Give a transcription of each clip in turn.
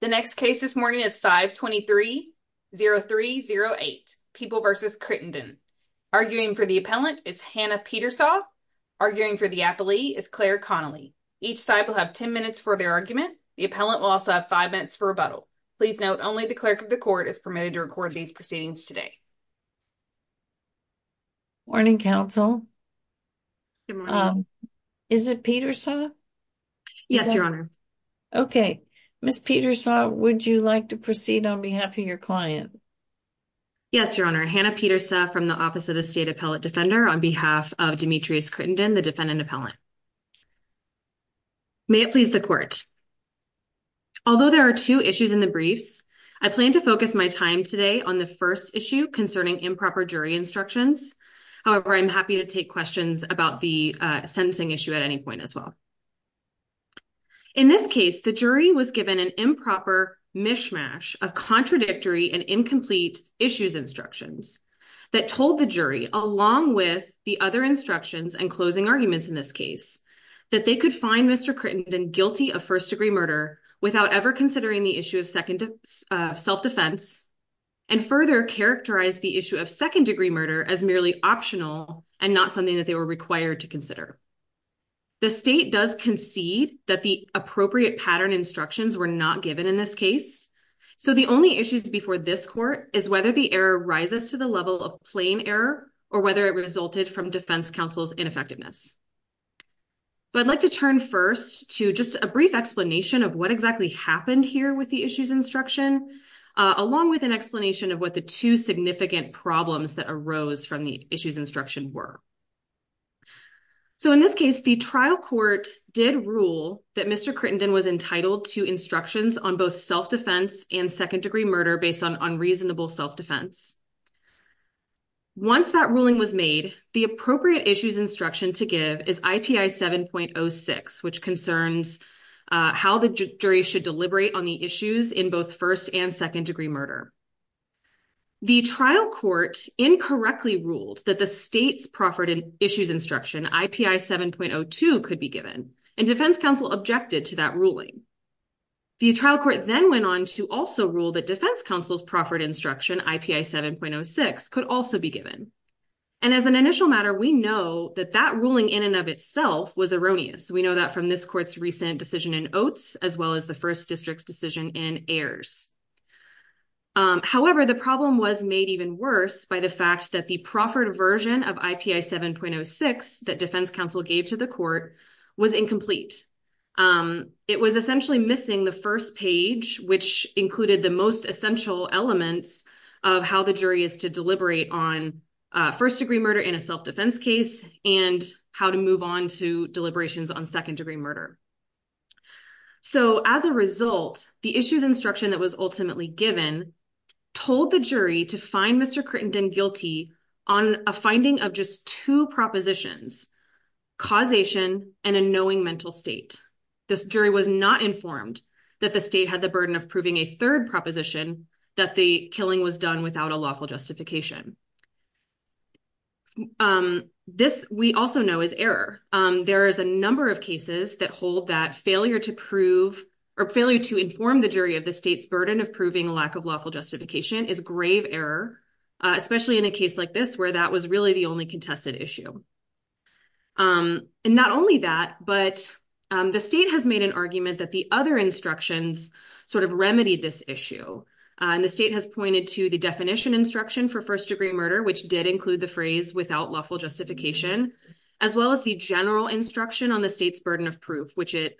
The next case this morning is 5-23-0308, People v. Crittendon. Arguing for the appellant is Hannah Petersaw. Arguing for the appellee is Claire Connolly. Each side will have 10 minutes for their argument. The appellant will also have 5 minutes for rebuttal. Please note, only the clerk of the court is permitted to record these proceedings today. Morning, counsel. Is it Petersaw? Yes, your honor. Okay. Ms. Petersaw, would you like to proceed on behalf of your client? Yes, your honor. Hannah Petersaw from the Office of the State Appellate Defender, on behalf of Demetrius Crittendon, the defendant appellant. May it please the court. Although there are two issues in the briefs, I plan to focus my time today on the first issue concerning improper jury instructions. However, I'm happy to take questions about the sentencing issue at any point as well. In this case, the jury was given an improper mishmash of contradictory and incomplete issues instructions that told the jury, along with the other instructions and closing arguments in this case, that they could find Mr. Crittendon guilty of first-degree murder without ever considering the issue of self-defense and further characterize the issue of second-degree murder as merely optional and not something that they were required to consider. The state does concede that the appropriate pattern instructions were not given in this case, so the only issues before this court is whether the error rises to the level of plain error or whether it resulted from defense counsel's ineffectiveness. But I'd like to turn first to just a brief explanation of what exactly happened here with the issues instruction, along with an explanation of what the two significant problems that arose from the issues instruction were. So, in this case, the trial court did rule that Mr. Crittenden was entitled to instructions on both self-defense and second-degree murder based on unreasonable self-defense. Once that ruling was made, the appropriate issues instruction to give is IPI 7.06, which concerns how the jury should deliberate on the issues in both first- and second-degree murder. The trial court incorrectly ruled that the state's proffered issues instruction, IPI 7.02, could be given, and defense counsel objected to that ruling. The trial court then went on to also rule that defense counsel's proffered instruction, IPI 7.06, could also be given. And as an initial matter, we know that that ruling in and of itself was erroneous. We know that from this court's recent decision in oaths as well as the first district's decision in heirs. However, the problem was made even worse by the fact that the proffered version of IPI 7.06 that defense counsel gave to the court was incomplete. It was essentially missing the first page, which included the most essential elements of how the jury is to deliberate on first-degree murder in a self-defense case and how to move on to deliberations on second-degree murder. So, as a result, the issues instruction that was ultimately given told the jury to find Mr. Crittenden guilty on a finding of just two propositions, causation and a knowing mental state. This jury was not informed that the state had the burden of proving a third proposition that the killing was done without a lawful justification. This, we also know, is error. There is a number of cases that hold that failure to prove or failure to inform the jury of the state's burden of proving a lack of lawful justification is grave error, especially in a case like this where that was really the only contested issue. And not only that, but the state has made an argument that the other instructions sort of remedied this issue. And the state has pointed to the definition instruction for first-degree murder, which is the general instruction on the state's burden of proof, which it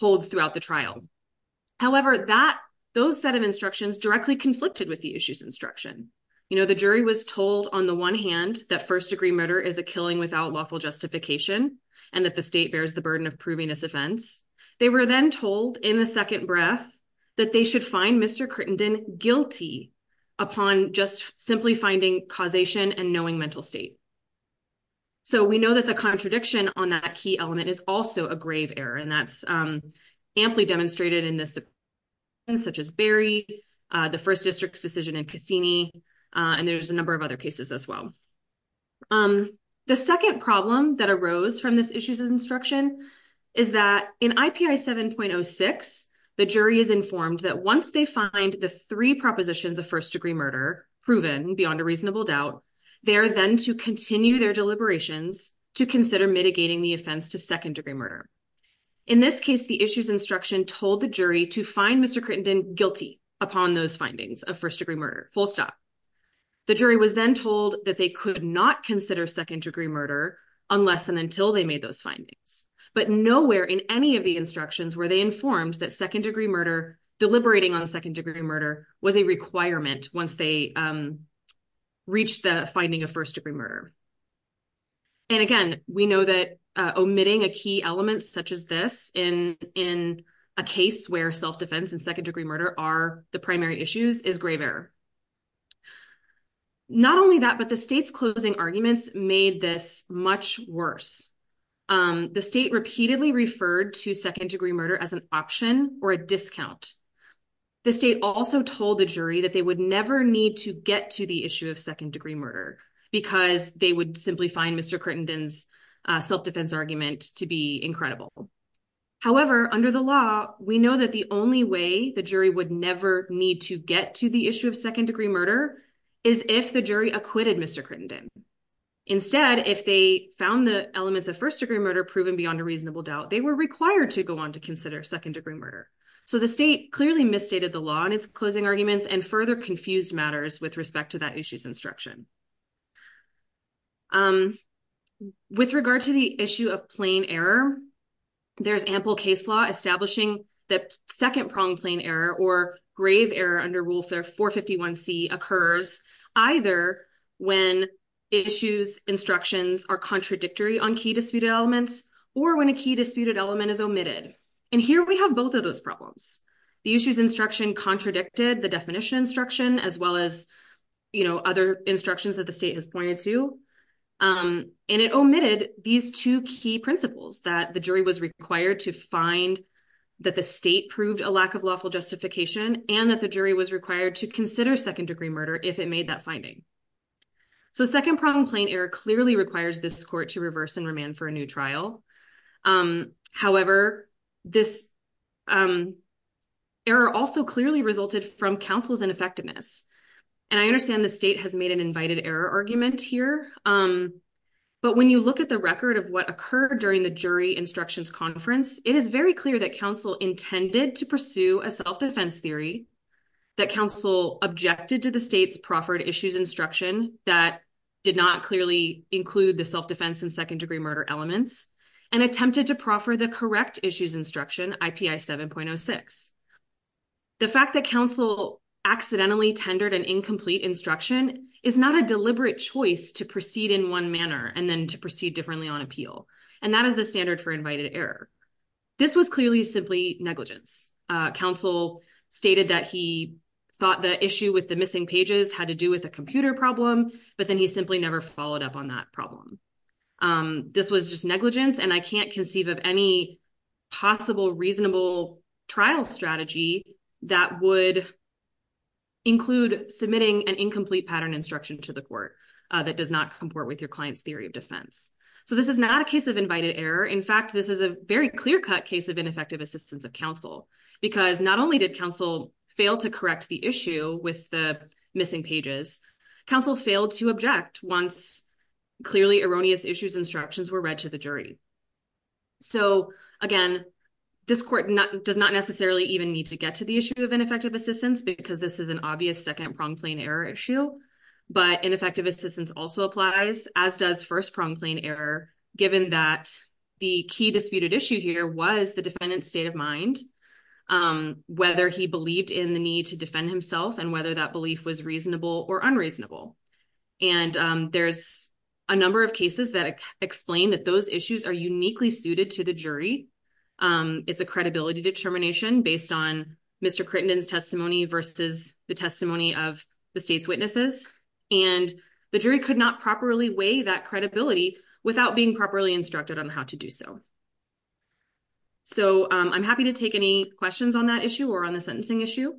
holds throughout the trial. However, those set of instructions directly conflicted with the issues instruction. The jury was told on the one hand that first-degree murder is a killing without lawful justification and that the state bears the burden of proving this offense. They were then told in the second breath that they should find Mr. Crittenden guilty upon just simply finding causation and knowing mental state. So we know that the contradiction on that key element is also a grave error. And that's amply demonstrated in this, such as Berry, the first district's decision in Cassini, and there's a number of other cases as well. The second problem that arose from this issue's instruction is that in IPI 7.06, the jury is informed that once they find the three propositions of first-degree murder proven beyond a reasonable doubt, they are then to continue their deliberations to consider mitigating the offense to second-degree murder. In this case, the issue's instruction told the jury to find Mr. Crittenden guilty upon those findings of first-degree murder, full stop. The jury was then told that they could not consider second-degree murder unless and until they made those findings. But nowhere in any of the instructions were they informed that second-degree murder, was a requirement once they reached the finding of first-degree murder. And again, we know that omitting a key element such as this in a case where self-defense and second-degree murder are the primary issues is grave error. Not only that, but the state's closing arguments made this much worse. The state repeatedly referred to second-degree murder as an option or a discount. The state also told the jury that they would never need to get to the issue of second-degree murder because they would simply find Mr. Crittenden's self-defense argument to be incredible. However, under the law, we know that the only way the jury would never need to get to the issue of second-degree murder is if the jury acquitted Mr. Crittenden. Instead, if they found the elements of first-degree murder proven beyond a reasonable doubt, they were required to go on to consider second-degree murder. So the state clearly misstated the law in its closing arguments and further confused matters with respect to that issue's instruction. With regard to the issue of plain error, there's ample case law establishing that second-pronged plain error or grave error under Rule 451C occurs either when issues instructions are contradictory on key disputed elements or when a key disputed element is omitted. And here we have both of those problems. The issue's instruction contradicted the definition instruction as well as other instructions that the state has pointed to. And it omitted these two key principles that the jury was required to find that the state proved a lack of lawful justification and that the jury was required to consider second-degree murder if it made that finding. So second-pronged plain error clearly requires this court to reverse and remand for a new trial. However, this error also clearly resulted from counsel's ineffectiveness. And I understand the state has made an invited error argument here. But when you look at the record of what occurred during the jury instructions conference, it is very clear that counsel intended to pursue a self-defense theory, that counsel objected to the state's proffered issues instruction that did not clearly include the self-defense and second-degree murder elements, and attempted to proffer the correct issues instruction IPI 7.06. The fact that counsel accidentally tendered an incomplete instruction is not a deliberate choice to proceed in one manner and then to proceed differently on appeal. And that is the standard for invited error. This was clearly simply negligence. Counsel stated that he thought the issue with the missing pages had to do with a computer problem, but then he simply never followed up on that problem. This was just negligence, and I can't conceive of any possible reasonable trial strategy that would include submitting an incomplete pattern instruction to the court that does not comport with your client's theory of defense. So this is not a case of invited error. In fact, this is a very clear-cut case of ineffective assistance of counsel. Because not only did counsel fail to correct the issue with the missing pages, counsel failed to object once clearly erroneous issues instructions were read to the jury. So, again, this court does not necessarily even need to get to the issue of ineffective assistance because this is an obvious second-prong plane error issue. But ineffective assistance also applies, as does first-prong plane error, given that the key disputed issue here was the defendant's state of mind, whether he believed in the need to defend himself and whether that belief was reasonable or unreasonable. And there's a number of cases that explain that those issues are uniquely suited to the It's a credibility determination based on Mr. Crittenden's testimony versus the testimony of the state's witnesses. And the jury could not properly weigh that credibility without being properly instructed on how to do so. So I'm happy to take any questions on that issue or on the sentencing issue.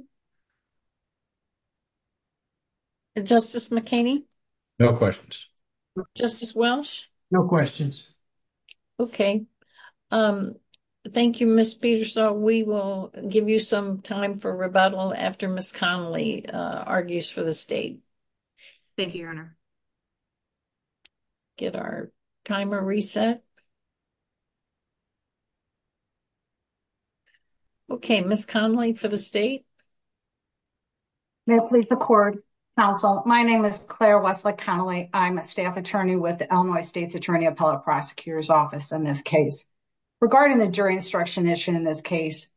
Justice McKinney? No questions. Justice Welch? No questions. Okay. Thank you, Ms. Peterson. We will give you some time for rebuttal after Ms. Connelly argues for the state. Thank you, Your Honor. Get our timer reset. Okay, Ms. Connelly for the state. May it please the court. Counsel, my name is Claire Wesley Connelly. I'm a staff attorney with the Illinois State's Attorney Appellate Prosecutor's Office in this case. Regarding the jury instruction issue in this case,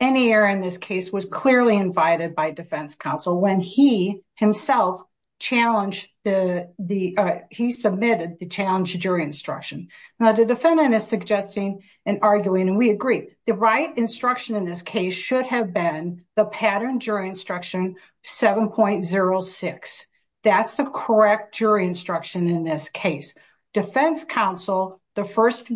any error in this case was clearly invited by defense counsel when he himself challenged the, he submitted the challenge to jury instruction. Now, the defendant is suggesting and arguing, and we agree, the right instruction in this should have been the pattern jury instruction 7.06. That's the correct jury instruction in this case. Defense counsel, the first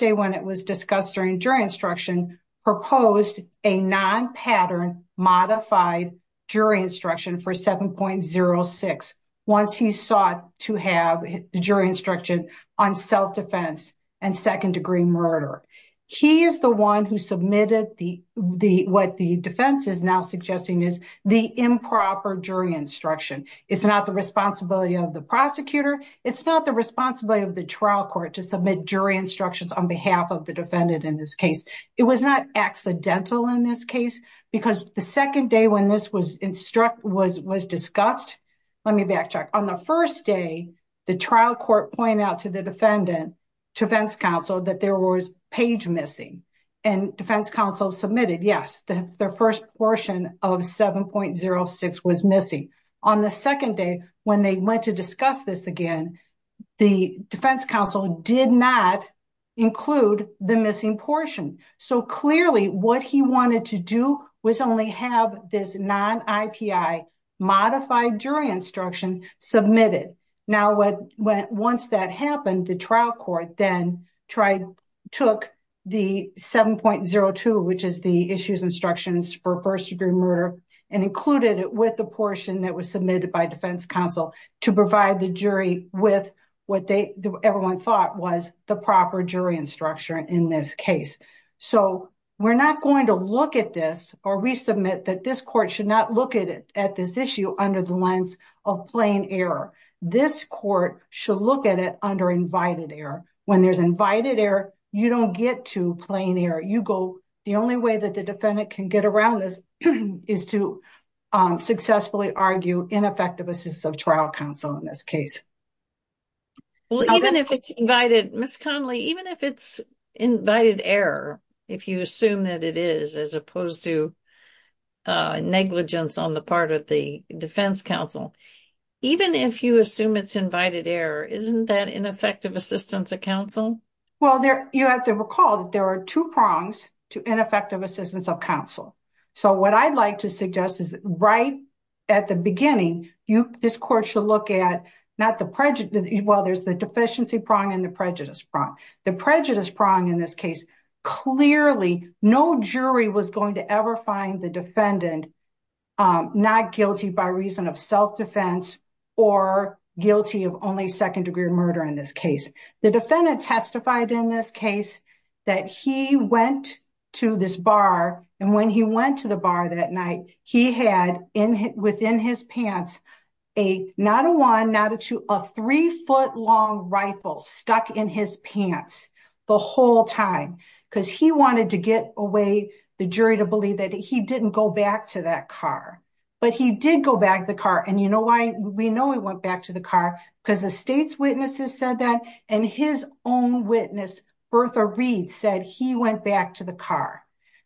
day when it was discussed during jury instruction, proposed a non-pattern modified jury instruction for 7.06 once he sought to have the jury instruction on self-defense and second degree murder. He is the one who submitted what the defense is now suggesting is the improper jury instruction. It's not the responsibility of the prosecutor. It's not the responsibility of the trial court to submit jury instructions on behalf of the defendant in this case. It was not accidental in this case because the second day when this was discussed, let me backtrack. On the first day, the trial court pointed out to the defendant, to defense counsel, that there was page missing and defense counsel submitted, yes, the first portion of 7.06 was missing. On the second day, when they went to discuss this again, the defense counsel did not include the missing portion. Clearly, what he wanted to do was only have this non-IPI modified jury instruction submitted. Once that happened, the trial court then took the 7.02, which is the issues instructions for first degree murder, and included it with the portion that was submitted by defense counsel to provide the jury with what everyone thought was the proper jury instruction in this case. We're not going to look at this or resubmit that this court should not look at this issue under the lens of plain error. This court should look at it under invited error. When there's invited error, you don't get to plain error. The only way that the defendant can get around this is to successfully argue ineffective assistance of trial counsel in this case. Well, even if it's invited, Ms. Conley, even if it's invited error, if you assume that it is, as opposed to negligence on the part of the defense counsel, even if you assume it's invited error, isn't that ineffective assistance of counsel? Well, you have to recall that there are two prongs to ineffective assistance of counsel. So what I'd like to suggest is right at the beginning, this court should look at not while there's the deficiency prong and the prejudice prong. The prejudice prong in this case, clearly no jury was going to ever find the defendant not guilty by reason of self-defense or guilty of only second degree murder in this case. The defendant testified in this case that he went to this bar and when he went to the bar, he had a three foot long rifle stuck in his pants the whole time because he wanted to get away the jury to believe that he didn't go back to that car. But he did go back to the car. And you know why? We know he went back to the car because the state's witnesses said that. And his own witness, Bertha Reed, said he went back to the car.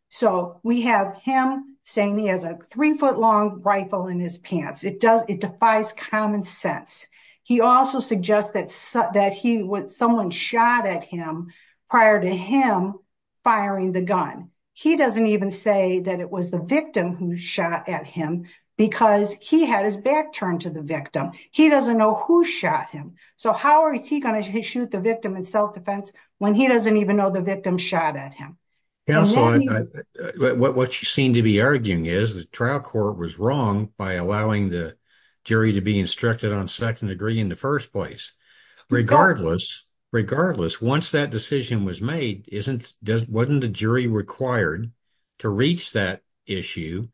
So we have him saying he has a three foot long rifle in his pants. It defies common sense. He also suggests that someone shot at him prior to him firing the gun. He doesn't even say that it was the victim who shot at him because he had his back turned to the victim. He doesn't know who shot him. So how is he going to shoot the victim in self-defense when he doesn't even know the victim shot at him? What you seem to be arguing is the trial court was wrong by allowing the jury to be instructed on second degree in the first place. Regardless, once that decision was made, wasn't the jury required to reach that issue?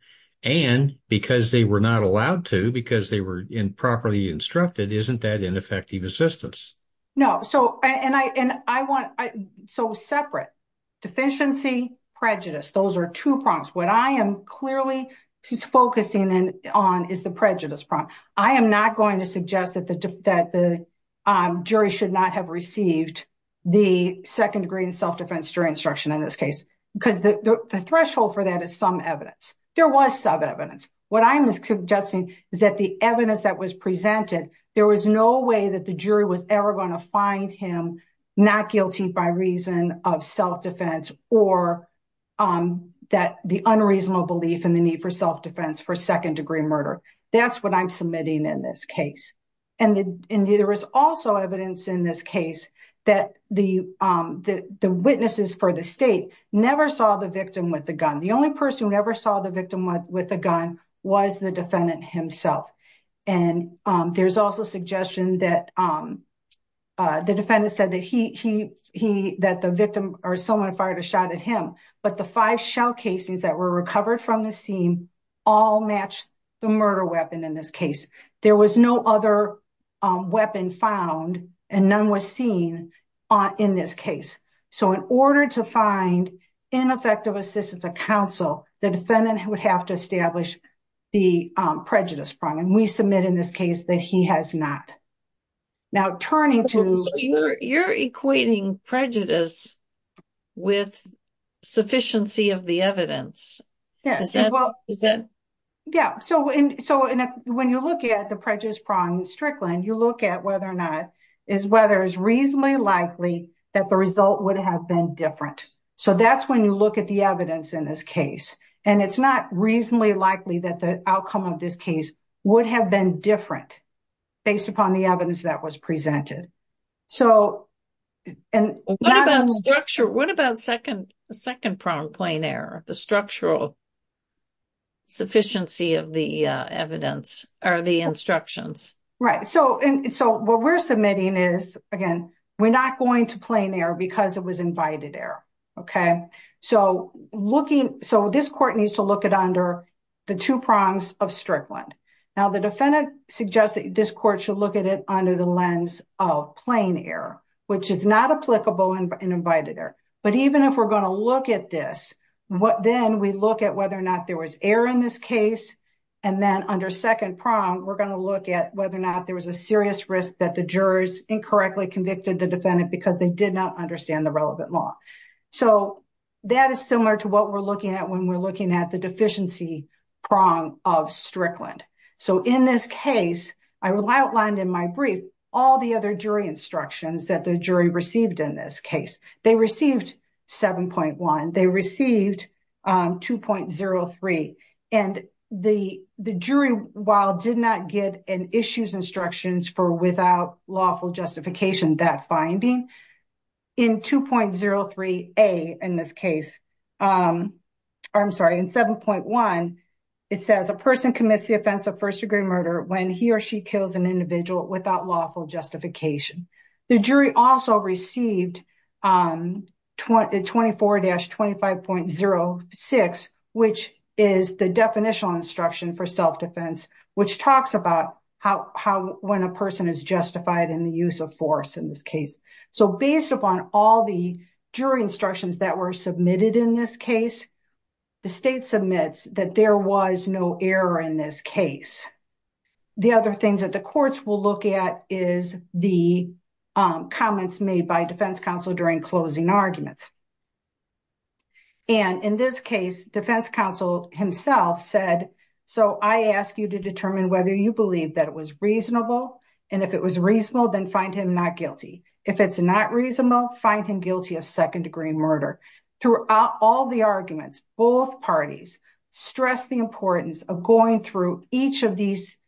And because they were not allowed to, because they were improperly instructed, isn't that ineffective assistance? No. So separate, deficiency, prejudice. Those are two prompts. What I am clearly focusing on is the prejudice prompt. I am not going to suggest that the jury should not have received the second degree in self-defense during instruction in this case because the threshold for that is some evidence. There was some evidence. What I'm suggesting is that the evidence that was presented, there was no way that the jury was ever going to find him not guilty by reason of self-defense or that the unreasonable belief in the need for self-defense for second degree murder. That's what I'm submitting in this case. And there was also evidence in this case that the witnesses for the state never saw the victim with the gun. The only person who never saw the victim with a gun was the defendant himself. And there's also suggestion that the defendant said that the victim or someone fired a shot at him. But the five shell casings that were recovered from the scene all matched the murder weapon in this case. There was no other weapon found and none was seen in this case. So in order to find ineffective assistance of counsel, the defendant would have to establish the prejudice prompt. And we submit in this case that he has not. Now turning to. So you're equating prejudice with sufficiency of the evidence. Yes. Yeah. So when you look at the prejudice prompt in Strickland, you look at whether or not is whether it's reasonably likely that the result would have been different. So that's when you look at the evidence in this case. And it's not reasonably likely that the outcome of this case would have been different based upon the evidence that was presented. So and. What about structure? What about second second prong plain error? The structural sufficiency of the evidence or the instructions? Right. So and so what we're submitting is, again, we're not going to plain error because it was invited error. OK, so looking so this court needs to look at under the two prongs of Strickland. Now, the defendant suggests that this court should look at it under the lens of plain error, which is not applicable and invited error. But even if we're going to look at this, what then we look at whether or not there was error in this case and then under second prong, we're going to look at whether or not there was a serious risk that the jurors incorrectly convicted the defendant because they did not understand the relevant law. So that is similar to what we're looking at when we're looking at the deficiency prong of Strickland. So in this case, I outlined in my brief all the other jury instructions that the jury received in this case. They received seven point one. They received two point zero three. And the jury, while did not get an issues instructions for without lawful justification that finding in two point zero three. A in this case, I'm sorry, in seven point one, it says a person commits the offense of first degree murder when he or she kills an individual without lawful justification. The jury also received twenty twenty four dash twenty five point zero six, which is the definitional instruction for self-defense, which talks about how when a person is justified in the use of force in this case. So based upon all the jury instructions that were submitted in this case, the state submits that there was no error in this case. The other things that the courts will look at is the comments made by defense counsel during closing arguments. And in this case, defense counsel himself said, so I ask you to determine whether you believe that it was reasonable. And if it was reasonable, then find him not guilty. If it's not reasonable, find him guilty of second degree murder. Throughout all the arguments, both parties stress the importance of going through each of these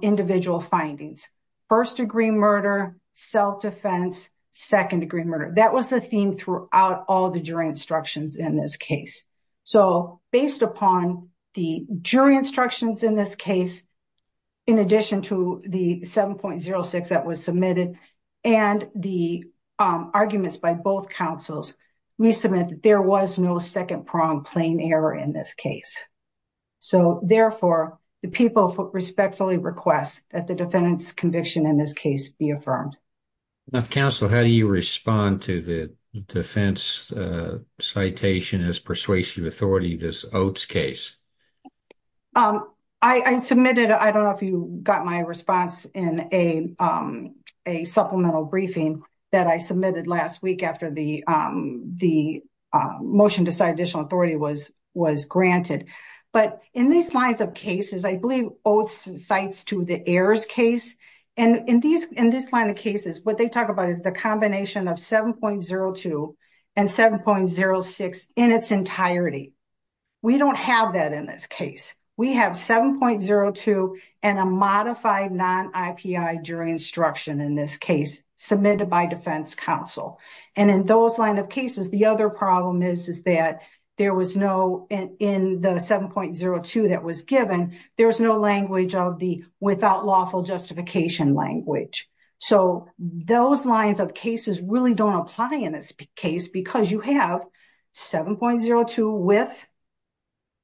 individual findings. First degree murder, self-defense, second degree murder. That was the theme throughout all the jury instructions in this case. So based upon the jury instructions in this case, in addition to the seven point zero six that was submitted and the arguments by both counsels, we submit that there was no second prong plane error in this case. So therefore, the people respectfully request that the defendant's conviction in this case be affirmed. Counsel, how do you respond to the defense citation as persuasive authority, this Oates case? I submitted, I don't know if you got my response in a supplemental briefing that I submitted last week after the motion to cite additional authority was granted. But in these lines of cases, I believe Oates cites to the errors case. And in these in this line of cases, what they talk about is the combination of seven point zero two and seven point zero six in its entirety. We don't have that in this case. We have seven point zero two and a modified non-IPI jury instruction in this case submitted by defense counsel. And in those line of cases, the other problem is, is that there was no in the seven point zero two that was given, there was no language of the without lawful justification language. So those lines of cases really don't apply in this case because you have seven point zero two with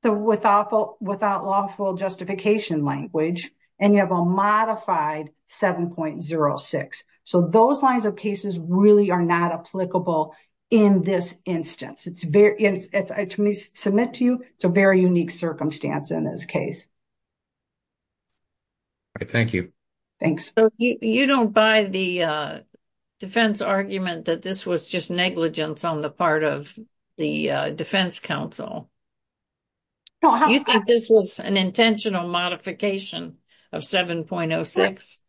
the without lawful justification language and you have a modified seven point zero six. So those lines of cases really are not applicable in this instance. Let me submit to you, it's a very unique circumstance in this case. All right. Thank you. You don't buy the defense argument that this was just negligence on the part of the defense counsel. You think this was an intentional modification of seven point zero six?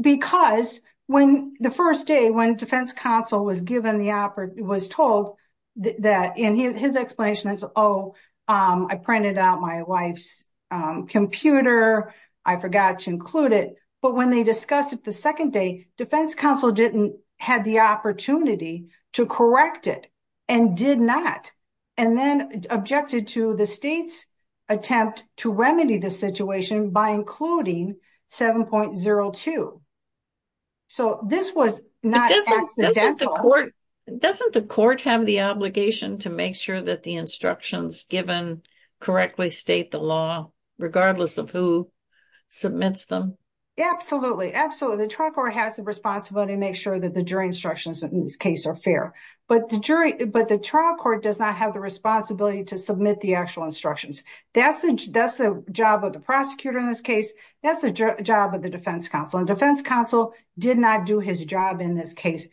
Because when the first day, when defense counsel was given the, was told that, and his explanation is, oh, I printed out my wife's computer. I forgot to include it. But when they discussed it the second day, defense counsel didn't had the opportunity to correct it and did not, and then objected to the state's attempt to remedy the situation by including seven point zero two. So this was not accidental. Doesn't the court have the obligation to make sure that the instructions given correctly state the law regardless of who submits them? Absolutely. Absolutely. The trial court has the responsibility to make sure that the jury instructions in this case are fair, but the jury, but the trial court does not have the responsibility to submit the actual instructions. That's the, that's the job of the prosecutor in this case. That's the job of the defense counsel and defense counsel did not do his job in this case.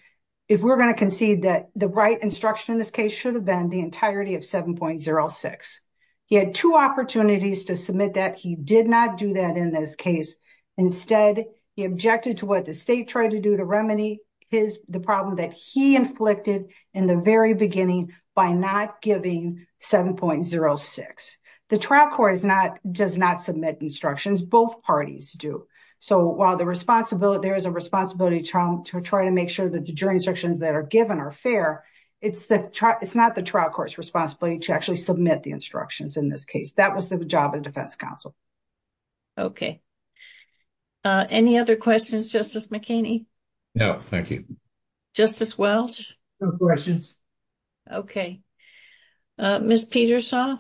If we're going to concede that the right instruction in this case should have been the entirety of seven point zero six. He had two opportunities to submit that. He did not do that in this case. Instead, he objected to what the state tried to do to remedy his, the problem that he inflicted in the very beginning by not giving seven point zero six. The trial court is not, does not submit instructions. Both parties do. So while the responsibility, there is a responsibility to try to make sure that the jury instructions that are given are fair, it's the, it's not the trial court's responsibility to actually submit the instructions in this case. That was the job of the defense counsel. Okay. Any other questions? Justice McKinney? No, thank you. Justice Welch? No questions. Okay. Ms. Peterson,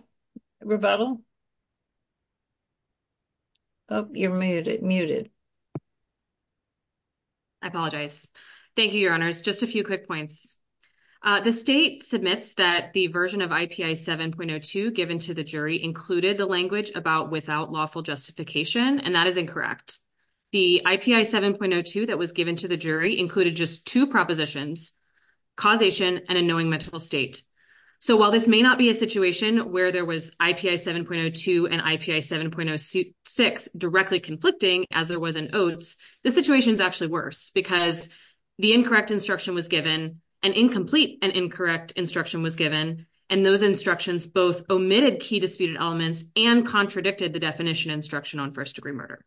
rebuttal. Oh, you're muted, muted. I apologize. Thank you, your honors. Just a few quick points. The state submits that the version of IPI seven point zero two given to the jury included the language about without lawful justification, and that is incorrect. The IPI seven point zero two that was given to the jury included just two propositions, causation and annoying mental state. So while this may not be a situation where there was IPI seven point zero two and IPI seven point zero six directly conflicting as there was an oats, the situation is actually worse because the incorrect instruction was given an incomplete and incorrect instruction was given. And those instructions both omitted key disputed elements and contradicted the definition instruction on first degree murder.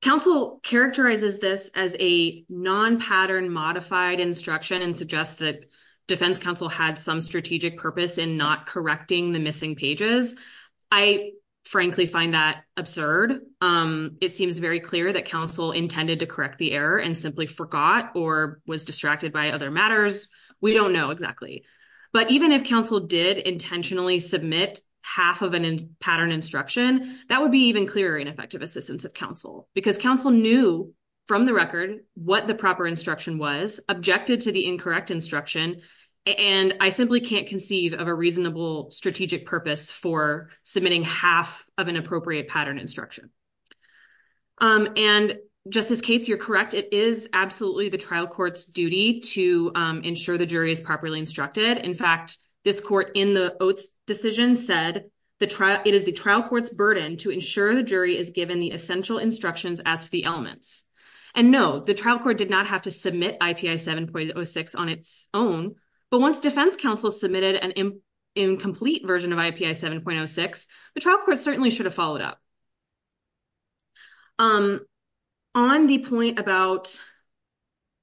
Counsel characterizes this as a non-pattern modified instruction and suggest that defense counsel had some strategic purpose in not correcting the missing pages. I frankly find that absurd. It seems very clear that counsel intended to correct the error and simply forgot or was distracted by other matters. We don't know exactly. But even if counsel did intentionally submit half of a pattern instruction, that would be even clearer ineffective assistance of counsel because counsel knew from the record what the proper instruction was objected to the incorrect instruction. And I simply can't conceive of a reasonable strategic purpose for submitting half of an appropriate pattern instruction. And just as case, you're correct, it is absolutely the trial court's duty to ensure the jury is properly instructed. In fact, this court in the oaths decision said that it is the trial court's burden to ensure the jury is given the essential instructions as the elements. And no, the trial court did not have to submit IPI 7.06 on its own. But once defense counsel submitted an incomplete version of IPI 7.06, the trial court certainly should have followed up. On the point about.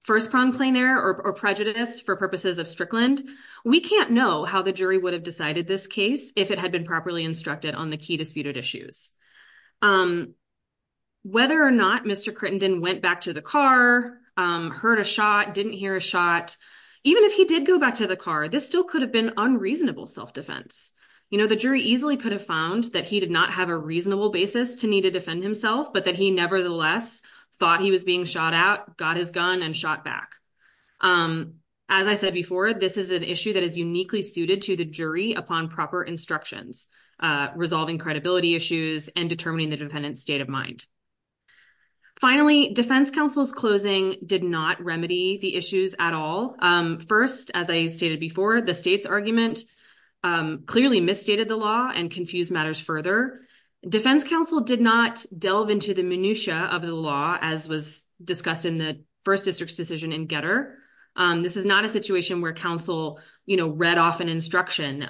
First, prone plain error or prejudice for purposes of Strickland, we can't know how the jury would have decided this case if it had been properly instructed on the key disputed issues. Whether or not Mr. Crittenden went back to the car, heard a shot, didn't hear a shot, even if he did go back to the car, this still could have been unreasonable self-defense. You know, the jury easily could have found that he did not have a reasonable basis to need to defend himself, but that he nevertheless thought he was being shot out, got his gun and shot back. As I said before, this is an issue that is uniquely suited to the jury upon proper instructions, resolving credibility issues and determining the defendant's state of Finally, defense counsel's closing did not remedy the issues at all. First, as I stated before, the state's argument clearly misstated the law and confused matters further. Defense counsel did not delve into the minutiae of the law, as was discussed in the first district's decision in Getter. This is not a situation where counsel read off an instruction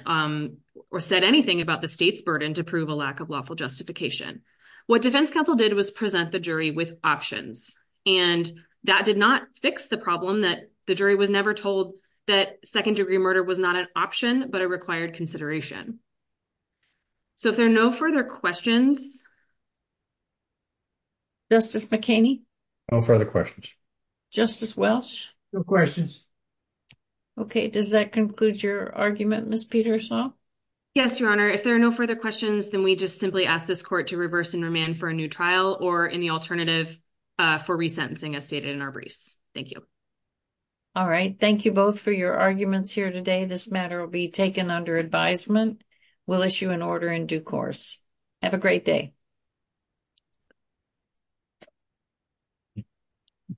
or said anything about the state's burden to prove a lack of lawful justification. What defense counsel did was present the jury with options, and that did not fix the problem that the jury was never told that second degree murder was not an option, but a required consideration. So if there are no further questions. Justice McKinney. No further questions. Justice Welch. No questions. Okay, does that conclude your argument, Ms. Peterson? Yes, Your Honor. If there are no further questions, then we just simply ask this court to reverse and remand for a new trial or any alternative for resentencing as stated in our briefs. Thank you. All right. Thank you both for your arguments here today. This matter will be taken under advisement. We'll issue an order in due course. Have a great day. Thank you.